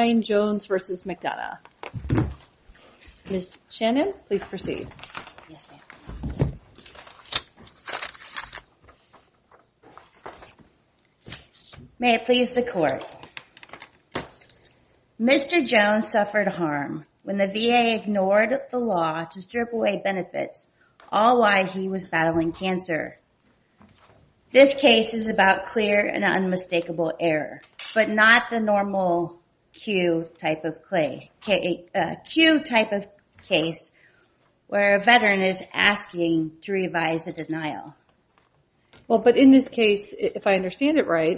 Mr. Jones suffered harm when the VA ignored the law to strip away benefits all while he was battling cancer. This case is about clear and unmistakable error, but not the normal Q type of case where a veteran is asking to revise a denial. In this case, if I understand it right,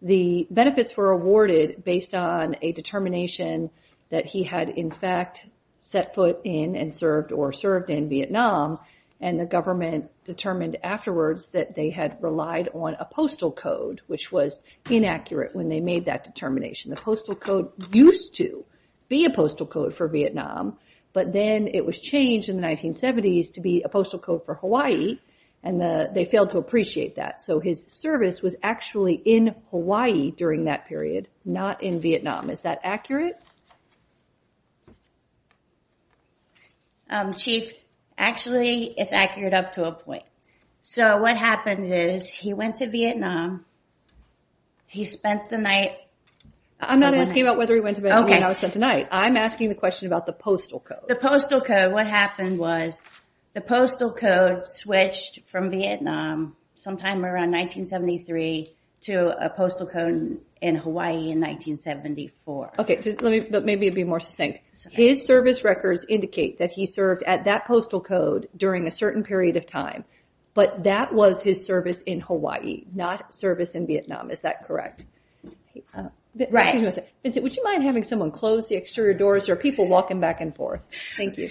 the benefits were awarded based on a determination that he had in fact set foot in or served in Vietnam, and the government determined afterwards that they had relied on a postal code, which was inaccurate when they made that determination. The postal code used to be a postal code for Vietnam, but then it was changed in the 1970s to be a postal code for Hawaii, and they failed to appreciate that. So his service was actually in Hawaii during that period, not in Vietnam. Is that accurate? Chief, actually, it's accurate up to a point. So what happened is he went to Vietnam. He spent the night. I'm not asking about whether he went to Vietnam or not spent the night. I'm asking the question about the postal code. The postal code, what happened was the postal code switched from Vietnam sometime around 1973 to a postal code in Hawaii in 1974. Okay, but maybe be more succinct. His service records indicate that he served at that postal code during a certain period of time, but that was his service in Hawaii, not service in Vietnam. Is that correct? Right. Would you mind having someone close the exterior doors? There are people walking back and forth. Thank you.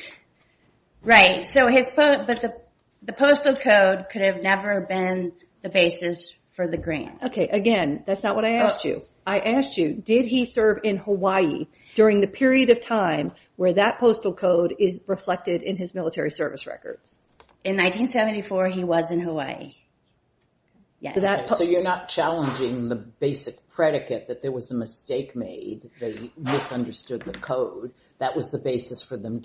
Right, but the postal code could have never been the basis for the green. Okay, again, that's not what I asked you. I asked you, did he serve in Hawaii during the period of time where that postal code is reflected in his military service records? In 1974, he was in Hawaii. So you're not challenging the basic predicate that there was a mistake made, they misunderstood the code. That was the basis for them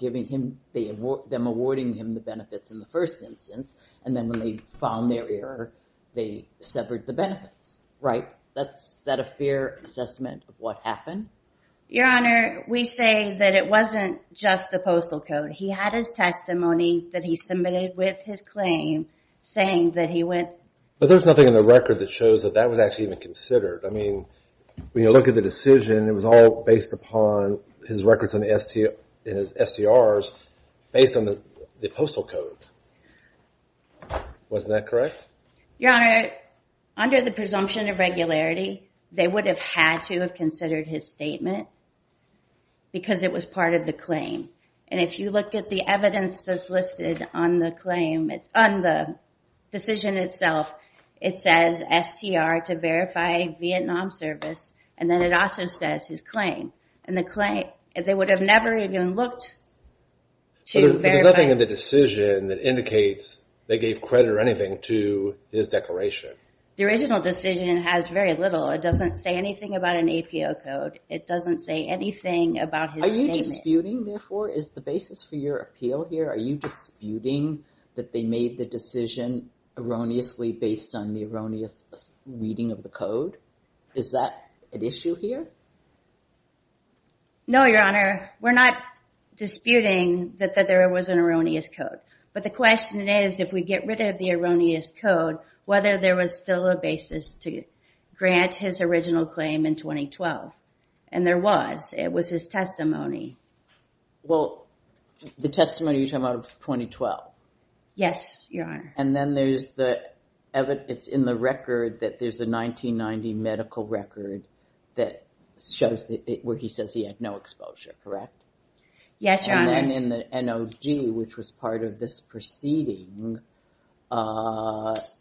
awarding him the benefits in the first instance, and then when they found their error, they severed the benefits, right? Is that a fair assessment of what happened? Your Honor, we say that it wasn't just the postal code. He had his testimony that he submitted with his claim saying that he went... But there's nothing in the record that shows that that was actually even considered. I mean, when you look at the decision, it was all based upon his records and his STRs based on the postal code. Wasn't that correct? Your Honor, under the presumption of regularity, they would have had to have considered his statement because it was part of the claim. And if you look at the evidence that's listed on the claim, on the decision itself, it says STR to verify Vietnam service, and then it also says his claim. And the claim, they would have never even looked to verify... But there's nothing in the decision that indicates they gave credit or anything to his declaration. The original decision has very little. It doesn't say anything about an APO code. It doesn't say anything about his statement. Are you disputing, therefore, is the basis for your appeal here? Are you disputing that they made the decision erroneously based on the erroneous reading of the code? Is that an issue here? No, Your Honor. We're not disputing that there was an erroneous code. But the question is, if we get rid of the erroneous code, whether there was still a basis to grant his original claim in 2012. And there was. It was his testimony. Well, the testimony you're talking about of 2012. Yes, Your Honor. And then there's the evidence in the record that there's a 1990 medical record that shows where he says he had no exposure, correct? Yes, Your Honor. And then in the NOG, which was part of this proceeding,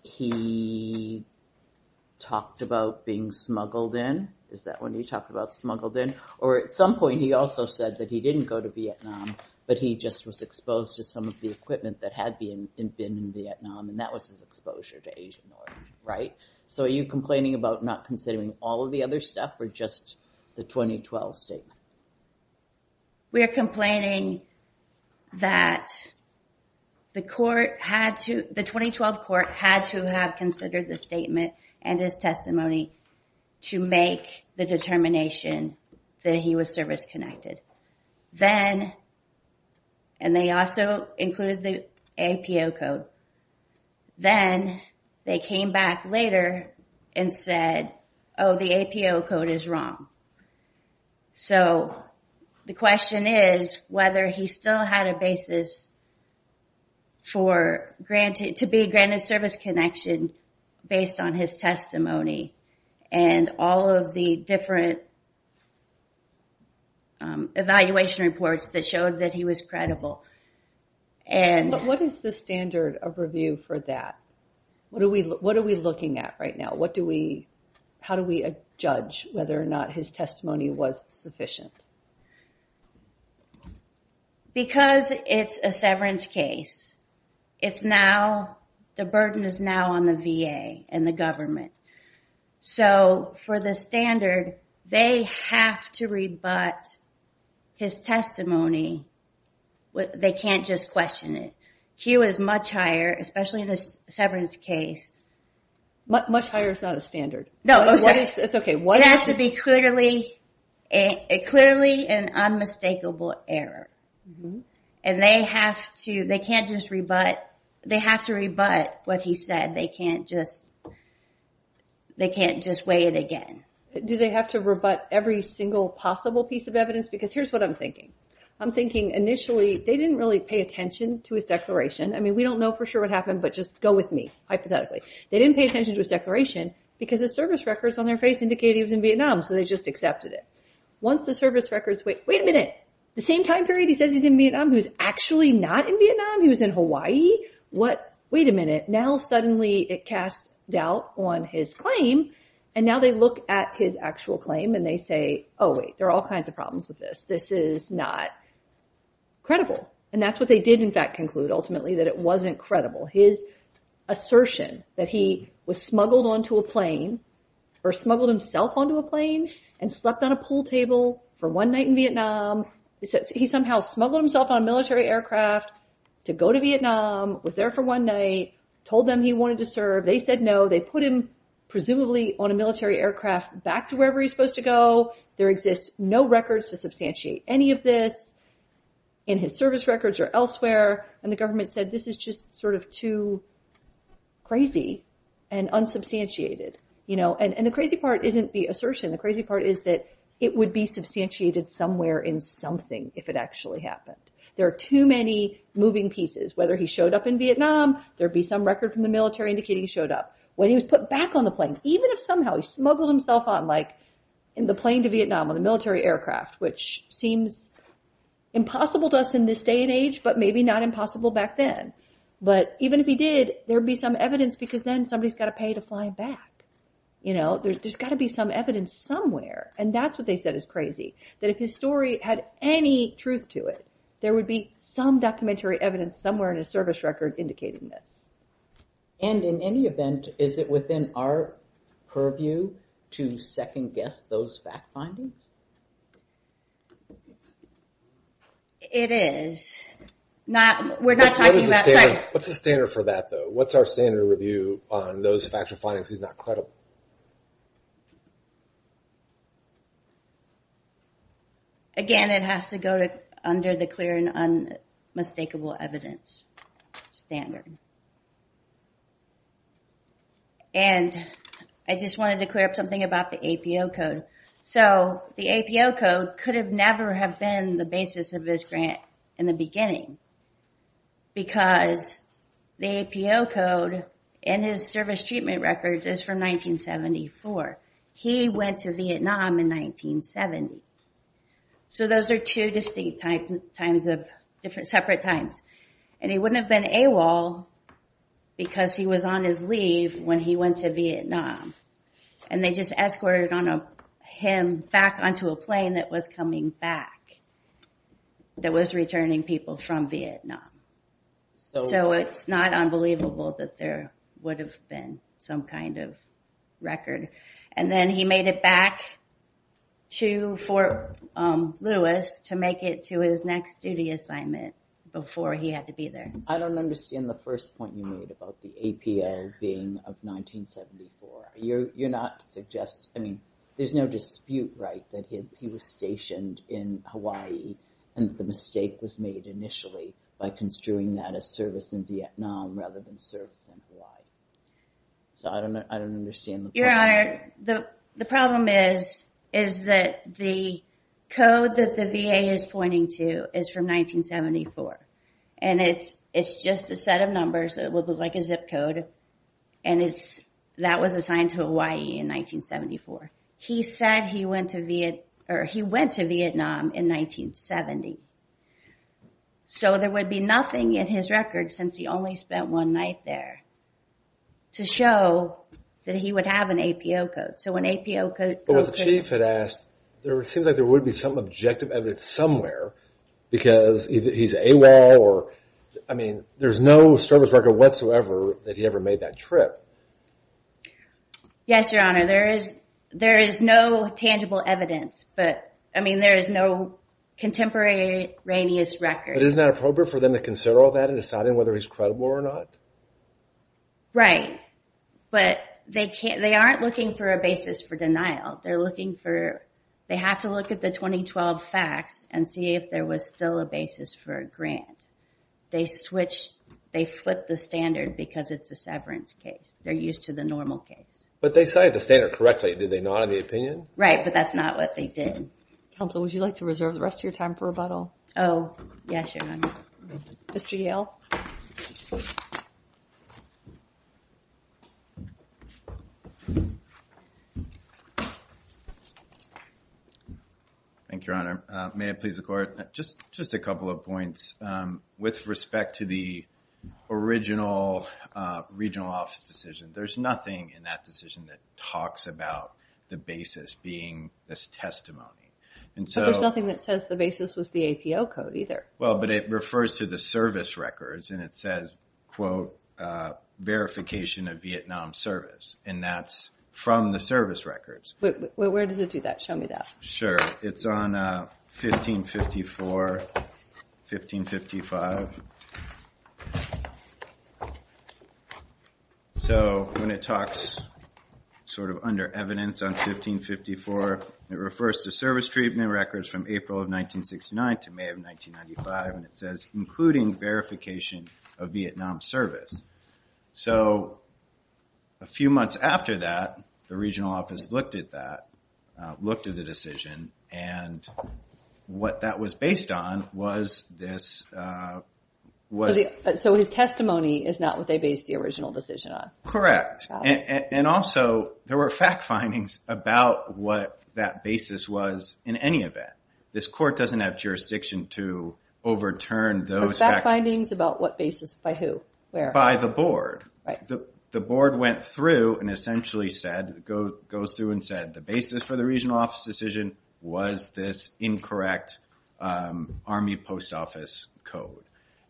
he talked about being smuggled in. Is that when he talked about smuggled in? Or at some point, he also said that he didn't go to Vietnam, but he just was exposed to some of the equipment that had been in Vietnam. And that was his exposure to Asian oil, right? So are you complaining about not considering all of the other stuff or just the 2012 statement? We are complaining that the court had to, the 2012 court had to have considered the statement and his testimony to make the determination that he was service-connected. Then, and they also included the APO code. Then they came back later and said, oh, the APO code is wrong. So the question is whether he still had a basis to be granted service connection based on his testimony and all of the different evaluation reports that showed that he was credible. What is the standard of review for that? What are we looking at right now? How do we judge whether or not his testimony was sufficient? Because it's a severance case, it's now, the burden is now on the VA and the government. So for the standard, they have to rebut his testimony. They can't just question it. Q is much higher, especially in a severance case. Much higher is not a standard. No, I'm sorry. It's okay. It has to be clearly an unmistakable error. And they have to, they can't just rebut, they have to rebut what he said. They can't just, they can't just weigh it again. Do they have to rebut every single possible piece of evidence? Because here's what I'm thinking. I'm thinking initially, they didn't really pay attention to his declaration. I mean, we don't know for sure what happened, but just go with me, hypothetically. They didn't pay attention to his declaration because his service records on their face indicated he was in Vietnam. So they just accepted it. Once the service records, wait, wait a minute. The same time period he says he's in Vietnam, he was actually not in Vietnam. He was in Hawaii. What, wait a minute. Now suddenly it casts doubt on his claim. And now they look at his actual claim and they say, oh wait, there are all kinds of problems with this. This is not credible. And that's what they did in fact conclude ultimately, that it wasn't credible. His assertion that he was smuggled onto a plane or smuggled himself onto a plane and slept on a pool table for one night in Vietnam. He somehow smuggled himself on a military aircraft to go to Vietnam, was there for one night, told them he wanted to serve. They said no. They put him presumably on a military aircraft back to wherever he was supposed to go. There exists no records to substantiate any of this in his service records or elsewhere. And the government said this is just sort of too crazy and unsubstantiated. And the crazy part isn't the assertion. The crazy part is that it would be substantiated somewhere in something if it actually happened. There are too many moving pieces. Whether he showed up in Vietnam, there would be some record from the military indicating he showed up. Whether he was put back on the plane, even if somehow he smuggled himself on like in the plane to Vietnam on a military aircraft, which seems impossible to us in this day and age, but maybe not impossible back then. But even if he did, there would be some evidence because then somebody's got to pay to fly him back. You know, there's got to be some evidence somewhere. And that's what they said is crazy. That if his story had any truth to it, there would be some documentary evidence somewhere in his service record indicating this. And in any event, is it within our purview to second guess those fact findings? It is. What's the standard for that though? What's our standard review on those factual findings if he's not credible? Again, it has to go under the clear and unmistakable evidence standard. And I just wanted to clear up something about the APO code. So the APO code could have never have been the basis of this grant in the beginning because the APO code in his service treatment records is from 1974. He went to Vietnam in 1970. So those are two distinct separate times. And he wouldn't have been AWOL because he was on his leave when he went to Vietnam. And they just escorted him back onto a plane that was coming back, that was returning people from Vietnam. So it's not unbelievable that there would have been some kind of record. And then he made it back to Fort Lewis to make it to his next duty assignment before he had to be there. I don't understand the first point you made about the APO being of 1974. You're not suggesting, I mean, there's no dispute, right, that he was stationed in Hawaii and the mistake was made initially by construing that as service in Vietnam rather than service in Hawaii. Your Honor, the problem is that the code that the VA is pointing to is from 1974. And it's just a set of numbers that look like a zip code and that was assigned to Hawaii in 1974. He said he went to Vietnam in 1970. So there would be nothing in his record since he only spent one night there to show that he would have an APO code. But what the Chief had asked, there seems like there would be some objective evidence somewhere because he's AWOL or, I mean, there's no service record whatsoever that he ever made that trip. Yes, Your Honor, there is no tangible evidence, but I mean, there is no contemporaneous record. But isn't that appropriate for them to consider all that in deciding whether he's credible or not? Right, but they aren't looking for a basis for denial. They have to look at the 2012 facts and see if there was still a basis for a grant. They flipped the standard because it's a severance case. They're used to the normal case. But they cited the standard correctly. Did they not in the opinion? Right, but that's not what they did. Counsel, would you like to reserve the rest of your time for rebuttal? Oh, yes, Your Honor. Mr. Yale? Thank you, Your Honor. May it please the Court? Just a couple of points. With respect to the original regional office decision, there's nothing in that decision that talks about the basis being this testimony. But there's nothing that says the basis was the APO code either. Well, but it refers to the service records, and it says, quote, verification of Vietnam service, and that's from the service records. Wait, where does it do that? Show me that. Sure. It's on 1554, 1555. So when it talks sort of under evidence on 1554, it refers to service treatment records from April of 1969 to May of 1995, and it says, including verification of Vietnam service. So a few months after that, the regional office looked at that, looked at the decision, and what that was based on was this. So his testimony is not what they based the original decision on. Correct. And also, there were fact findings about what that basis was in any event. This Court doesn't have jurisdiction to overturn those facts. Fact findings about what basis, by who, where? By the board. The board went through and essentially said, the basis for the regional office decision was this incorrect Army post office code.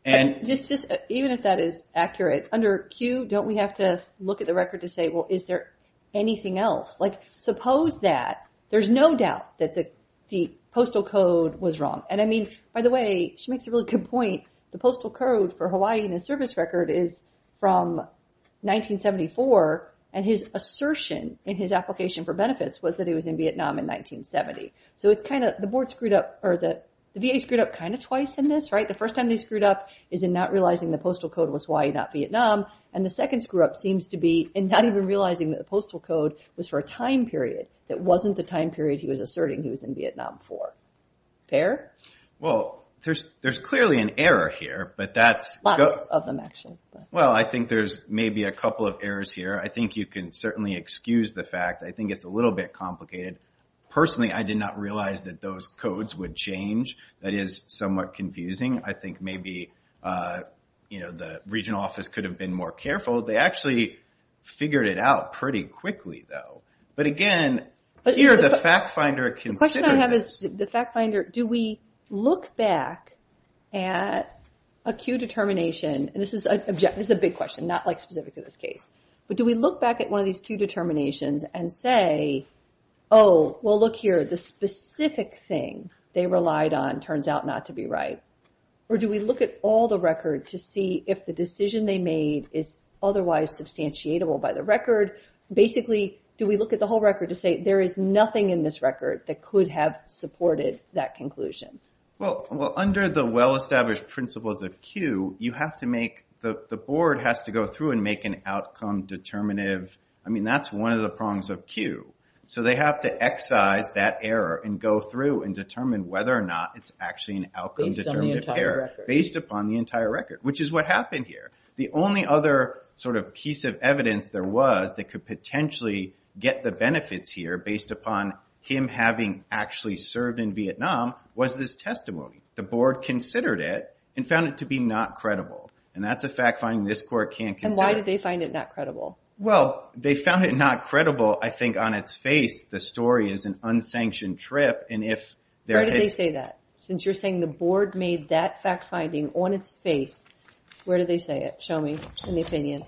Even if that is accurate, under Q, don't we have to look at the record to say, well, is there anything else? Like, suppose that. There's no doubt that the postal code was wrong. And I mean, by the way, she makes a really good point. The postal code for Hawaii in the service record is from 1974, and his assertion in his application for benefits was that he was in Vietnam in 1970. So it's kind of, the board screwed up, or the VA screwed up kind of twice in this, right? The first time they screwed up is in not realizing the postal code was Hawaii, not Vietnam, and the second screw up seems to be in not even realizing that the postal code was for a time period that wasn't the time period he was asserting he was in Vietnam for. Fair? Well, there's clearly an error here, but that's- Lots of them, actually. Well, I think there's maybe a couple of errors here. I think you can certainly excuse the fact, I think it's a little bit complicated. Personally, I did not realize that those codes would change. That is somewhat confusing. I think maybe, you know, the regional office could have been more careful. They actually figured it out pretty quickly, though. But again, here the fact finder considered this. The question I have is, the fact finder, do we look back at a Q determination, and this is a big question, not like specific to this case, but do we look back at one of these Q determinations and say, oh, well look here, the specific thing they relied on turns out not to be right? Or do we look at all the record to see if the decision they made is otherwise substantiatable by the record? Basically, do we look at the whole record to say there is nothing in this record that could have supported that conclusion? Well, under the well-established principles of Q, you have to make, the board has to go through and make an outcome determinative, I mean, that's one of the prongs of Q. So they have to excise that error and go through and determine whether or not it's actually an outcome- Based on the entire record. Based upon the entire record, which is what happened here. The only other sort of piece of evidence there was that could potentially get the benefits here based upon him having actually served in Vietnam was this testimony. The board considered it and found it to be not credible. And that's a fact-finding this court can't consider. And why did they find it not credible? Well, they found it not credible, I think, on its face. The story is an unsanctioned trip, and if- Where did they say that? Since you're saying the board made that fact-finding on its face, where did they say it? Show me, in the opinion.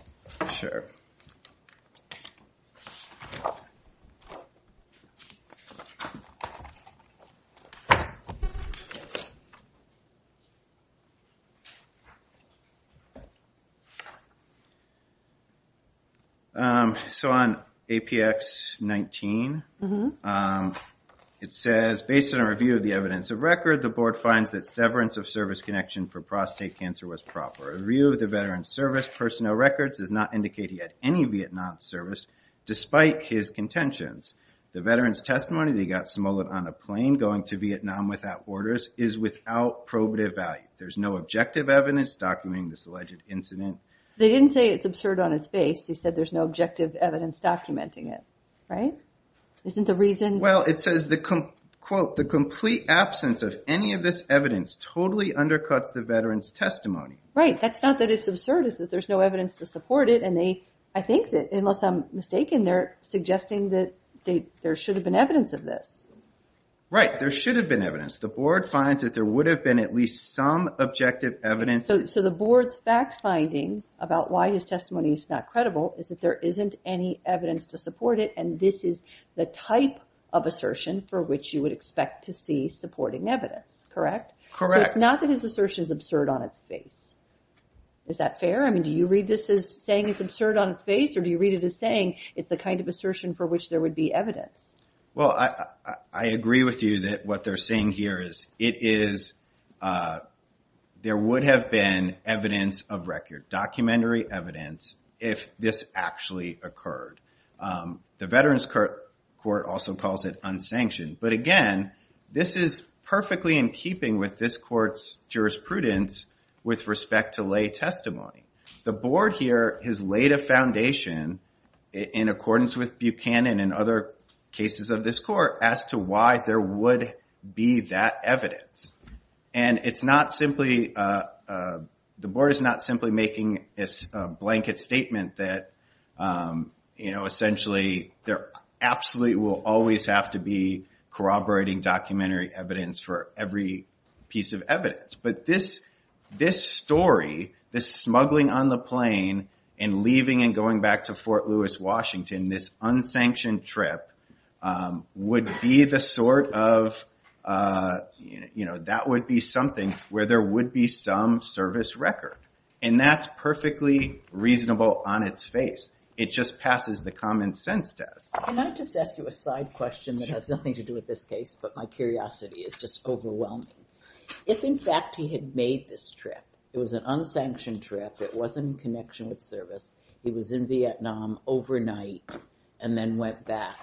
Sure. So on APX-19, it says, based on a review of the evidence of record, the board finds that severance of service connection for prostate cancer was proper. A review of the veteran's service personnel records does not indicate he had any Vietnam service, despite his contentions. The veteran's testimony that he got smuggled on a plane going to Vietnam without orders is without probative value. There's no objective evidence documenting this alleged incident. They didn't say it's absurd on its face. They said there's no objective evidence documenting it, right? Isn't the reason- Well, it says, quote, the complete absence of any of this evidence totally undercuts the veteran's testimony. Right, that's not that it's absurd, it's that there's no evidence to support it, and I think that, unless I'm mistaken, they're suggesting that there should have been evidence of this. Right, there should have been evidence. The board finds that there would have been at least some objective evidence. So the board's fact-finding about why his testimony is not credible is that there isn't any evidence to support it, and this is the type of assertion for which you would expect to see supporting evidence, correct? Correct. So it's not that his assertion is absurd on its face. Is that fair? I mean, do you read this as saying it's absurd on its face, or do you read it as saying it's the kind of assertion for which there would be evidence? Well, I agree with you that what they're saying here is it is- there would have been evidence of record, documentary evidence, if this actually occurred. The Veterans Court also calls it unsanctioned, but again, this is perfectly in keeping with this court's jurisprudence with respect to lay testimony. The board here has laid a foundation, in accordance with Buchanan and other cases of this court, as to why there would be that evidence. And it's not simply- the board is not simply making a blanket statement that, you know, essentially there absolutely will always have to be corroborating documentary evidence for every piece of evidence. But this story, this smuggling on the plane, and leaving and going back to Fort Lewis, Washington, this unsanctioned trip, would be the sort of- you know, that would be something where there would be some service record. And that's perfectly reasonable on its face. It just passes the common sense test. Can I just ask you a side question that has nothing to do with this case, but my curiosity is just overwhelming? If, in fact, he had made this trip, it was an unsanctioned trip, it wasn't in connection with service, he was in Vietnam overnight and then went back,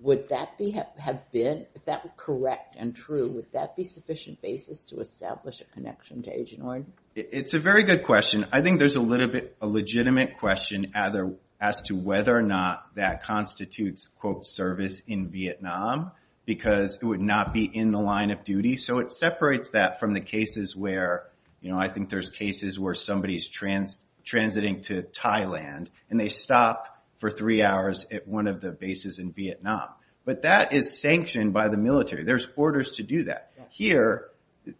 would that have been- if that were correct and true, would that be sufficient basis to establish a connection to Agent Orange? It's a very good question. I think there's a legitimate question as to whether or not that constitutes, quote, service in Vietnam, because it would not be in the line of duty. So it separates that from the cases where, you know, I think there's cases where somebody's transiting to Thailand, and they stop for three hours at one of the bases in Vietnam. But that is sanctioned by the military. There's orders to do that. Here,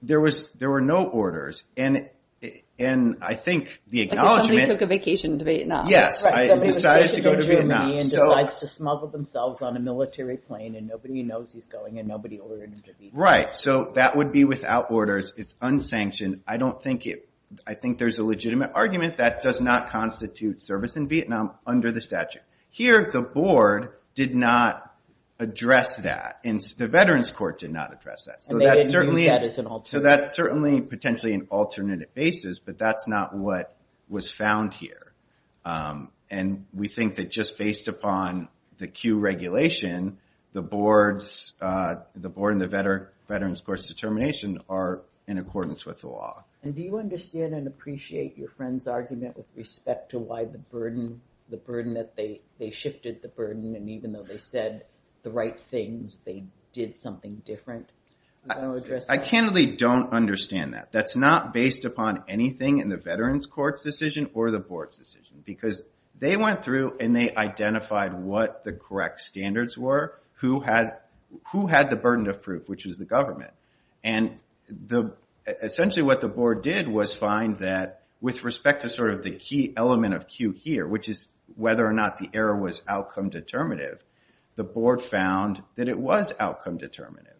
there were no orders, and I think the acknowledgement- Like if somebody took a vacation to Vietnam. Yes, I decided to go to Vietnam. Somebody was stationed in Germany and decides to smuggle themselves on a military plane, and nobody knows he's going, and nobody ordered him to be there. Right, so that would be without orders. It's unsanctioned. I don't think it- I think there's a legitimate argument that does not constitute service in Vietnam under the statute. Here, the board did not address that, and the Veterans Court did not address that. And they didn't use that as an alternative. So that's certainly potentially an alternative basis, but that's not what was found here. And we think that just based upon the Q regulation, the board's- the board and the Veterans Court's determination are in accordance with the law. And do you understand and appreciate your friend's argument with respect to why the burden- the burden that they- they shifted the burden, and even though they said the right things, they did something different? I can't really don't understand that. That's not based upon anything in the Veterans Court's decision or the board's decision, because they went through and they identified what the correct standards were, who had the burden of proof, which was the government. And essentially what the board did was find that with respect to sort of the key element of Q here, which is whether or not the error was outcome determinative, the board found that it was outcome determinative.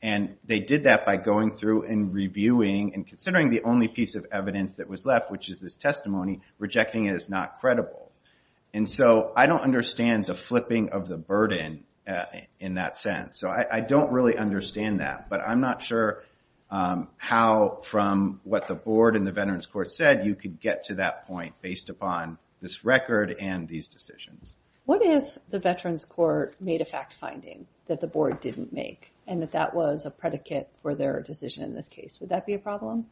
And they did that by going through and reviewing and considering the only piece of evidence that was left, which is this testimony, rejecting it as not credible. And so I don't understand the flipping of the burden in that sense. So I don't really understand that. But I'm not sure how from what the board and the Veterans Court said you could get to that point based upon this record and these decisions. What if the Veterans Court made a fact finding that the board didn't make and that that was a predicate for their decision in this case? Would that be a problem?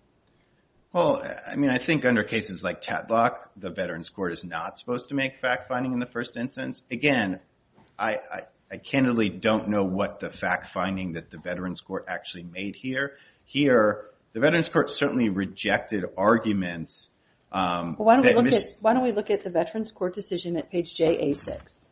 Well, I mean, I think under cases like Tadlock, the Veterans Court is not supposed to make fact finding in the first instance. Again, I candidly don't know what the fact finding that the Veterans Court actually made here. Here, the Veterans Court certainly rejected arguments. Why don't we look at the Veterans Court decision at page JA6?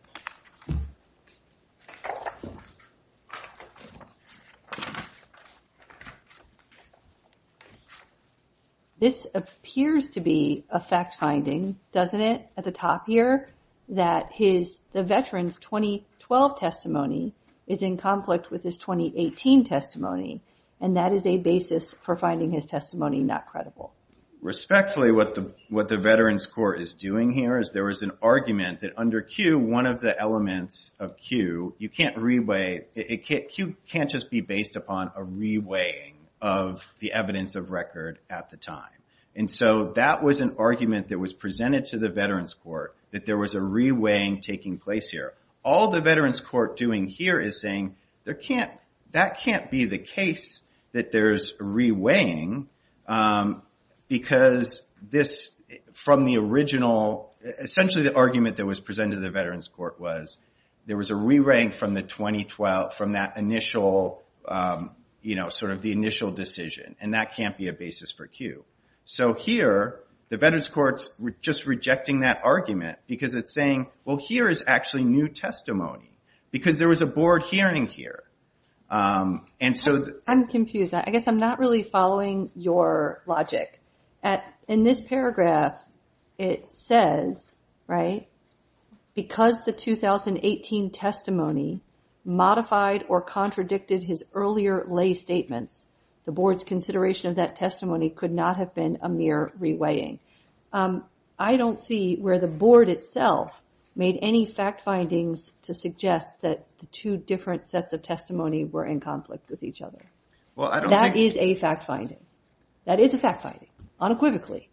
This appears to be a fact finding, doesn't it, at the top here, that the veteran's 2012 testimony is in conflict with his 2018 testimony, and that is a basis for finding his testimony not credible. Respectfully, what the Veterans Court is doing here is there is an argument that under Q, one of the things that the Veterans Court is doing under one of the elements of Q, you can't re-weigh, Q can't just be based upon a re-weighing of the evidence of record at the time. And so that was an argument that was presented to the Veterans Court that there was a re-weighing taking place here. All the Veterans Court doing here is saying that can't be the case that there's re-weighing because this, from the original, essentially the argument that was presented to the Veterans Court was there was a re-weighing from that initial decision, and that can't be a basis for Q. So here, the Veterans Court's just rejecting that argument because it's saying, well, here is actually new testimony because there was a board hearing here. I'm confused. I guess I'm not really following your logic. In this paragraph, it says, right, because the 2018 testimony modified or contradicted his earlier lay statements, the board's consideration of that testimony could not have been a mere re-weighing. I don't see where the board itself made any fact findings to suggest that the two different sets of testimony were in conflict with each other. That is a fact finding. That is a fact finding, unequivocally.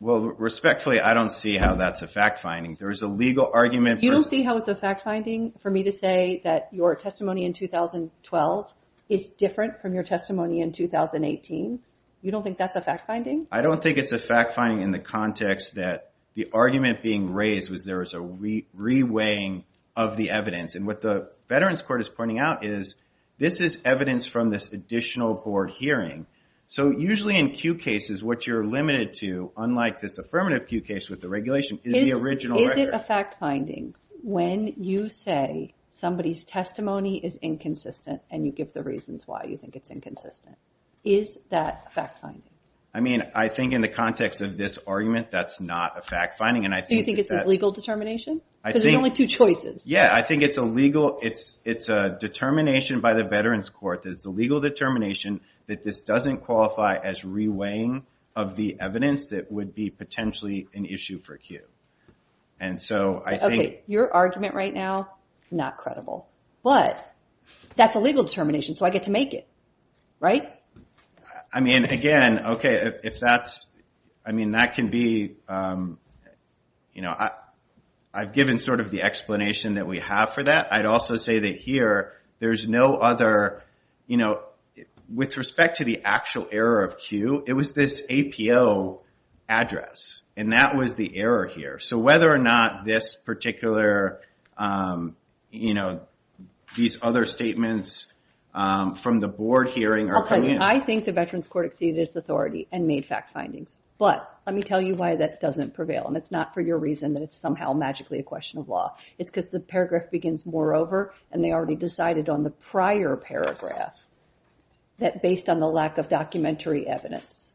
Well, respectfully, I don't see how that's a fact finding. There is a legal argument for... You don't see how it's a fact finding for me to say that your testimony in 2012 is different from your testimony in 2018? You don't think that's a fact finding? I don't think it's a fact finding in the context that the argument being raised was there was a re-weighing of the evidence. And what the Veterans Court is pointing out is this is evidence from this additional board hearing. So usually in Q cases, what you're limited to, unlike this affirmative Q case with the regulation, is the original record. Is it a fact finding when you say somebody's testimony is inconsistent and you give the reasons why you think it's inconsistent? Is that a fact finding? I mean, I think in the context of this argument, that's not a fact finding. Do you think it's a legal determination? Because there are only two choices. Yeah, I think it's a legal... It's a determination by the Veterans Court that it's a legal determination that this doesn't qualify as re-weighing of the evidence that would be potentially an issue for Q. And so I think... Okay, your argument right now, not credible. But that's a legal determination, so I get to make it, right? I mean, again, okay, if that's... I mean, that can be... I've given sort of the explanation that we have for that. I'd also say that here, there's no other... With respect to the actual error of Q, it was this APO address, and that was the error here. So whether or not this particular... these other statements from the board hearing are coming in... Okay, I think the Veterans Court exceeded its authority and made fact findings. But let me tell you why that doesn't prevail, and it's not for your reason that it's somehow magically a question of law. It's because the paragraph begins moreover, and they already decided on the prior paragraph that based on the lack of documentary evidence,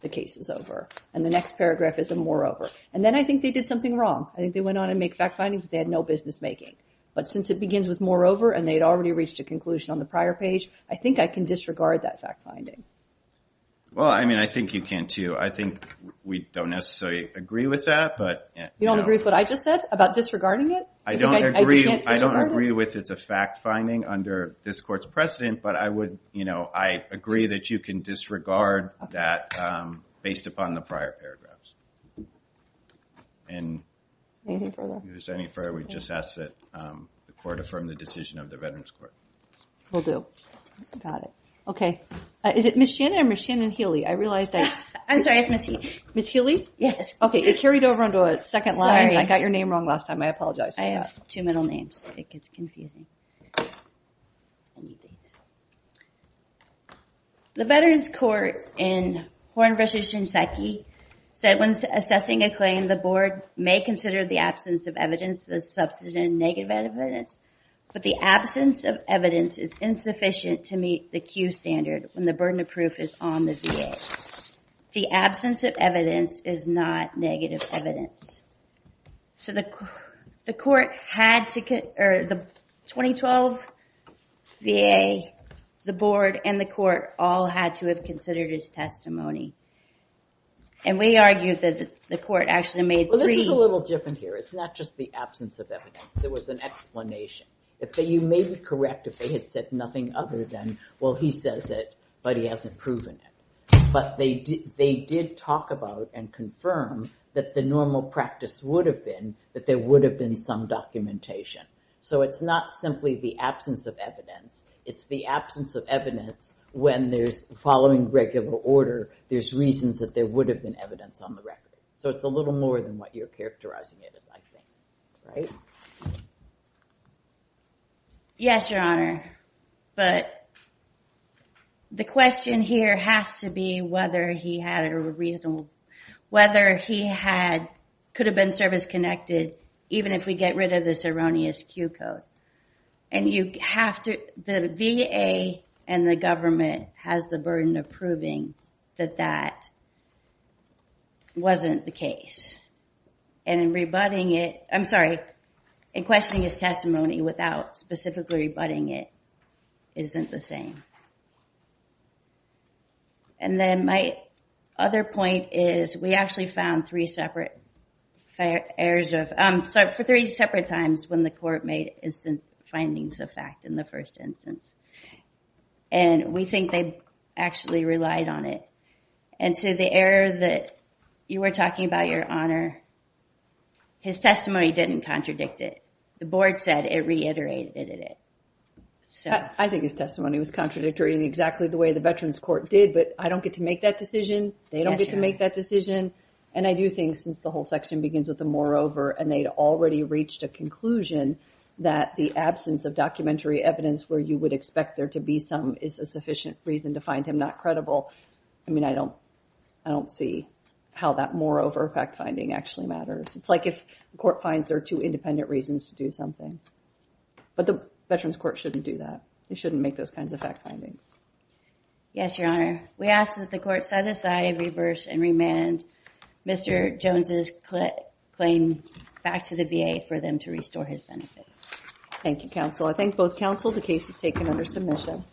the case is over. And the next paragraph is a moreover. And then I think they did something wrong. I think they went on to make fact findings that they had no business making. But since it begins with moreover, and they'd already reached a conclusion on the prior page, I think I can disregard that fact finding. Well, I mean, I think you can, too. I think we don't necessarily agree with that, but... You don't agree with what I just said about disregarding it? I don't agree with it's a fact finding under this court's precedent, but I agree that you can disregard that based upon the prior paragraphs. Anything further? If there's any further, we just ask that the court affirm the decision of the Veterans Court. Will do. Got it. Okay. Is it Ms. Shannon or Ms. Shannon-Healy? I realized I... I'm sorry. It's Ms. Healy. Yes. Okay. It carried over onto a second line. Sorry. I got your name wrong last time. I apologize for that. I have two middle names. It gets confusing. I need these. The Veterans Court in Horne v. Shinseki said when assessing a claim, the board may consider the absence of evidence, the substantive and negative evidence, but the absence of evidence is insufficient to meet the Q standard when the burden of proof is on the VA. The absence of evidence is not negative evidence. So the court had to... The 2012 VA, the board, and the court all had to have considered his testimony. And we argued that the court actually made three... Well, this is a little different here. It's not just the absence of evidence. There was an explanation. You may be correct if they had said nothing other than, well, he says it, but he hasn't proven it. But they did talk about and confirm that the normal practice would have been that there would have been some documentation. So it's not simply the absence of evidence. It's the absence of evidence when there's, following regular order, there's reasons that there would have been evidence on the record. So it's a little more than what you're characterizing it as, I think. Right? Yes, Your Honor. But the question here has to be whether he had a reasonable... whether he could have been service-connected even if we get rid of this erroneous Q code. And you have to... The VA and the government has the burden of proving that that wasn't the case. And in rebutting it... I'm sorry, in questioning his testimony without specifically rebutting it isn't the same. And then my other point is we actually found three separate errors of... Sorry, for three separate times when the court made instant findings of fact in the first instance. And we think they actually relied on it. And so the error that you were talking about, Your Honor, his testimony didn't contradict it. The board said it reiterated it. I think his testimony was contradictory in exactly the way the Veterans Court did. But I don't get to make that decision. They don't get to make that decision. And I do think since the whole section begins with the moreover and they'd already reached a conclusion that the absence of documentary evidence where you would expect there to be some is a sufficient reason to find him not credible. I mean, I don't see how that moreover fact-finding actually matters. It's like if the court finds there are two independent reasons to do something. But the Veterans Court shouldn't do that. They shouldn't make those kinds of fact findings. Yes, Your Honor. We ask that the court set aside, reverse, and remand Mr. Jones' claim back to the VA for them to restore his benefits. Thank you, counsel. I thank both counsel. The case is taken under submission.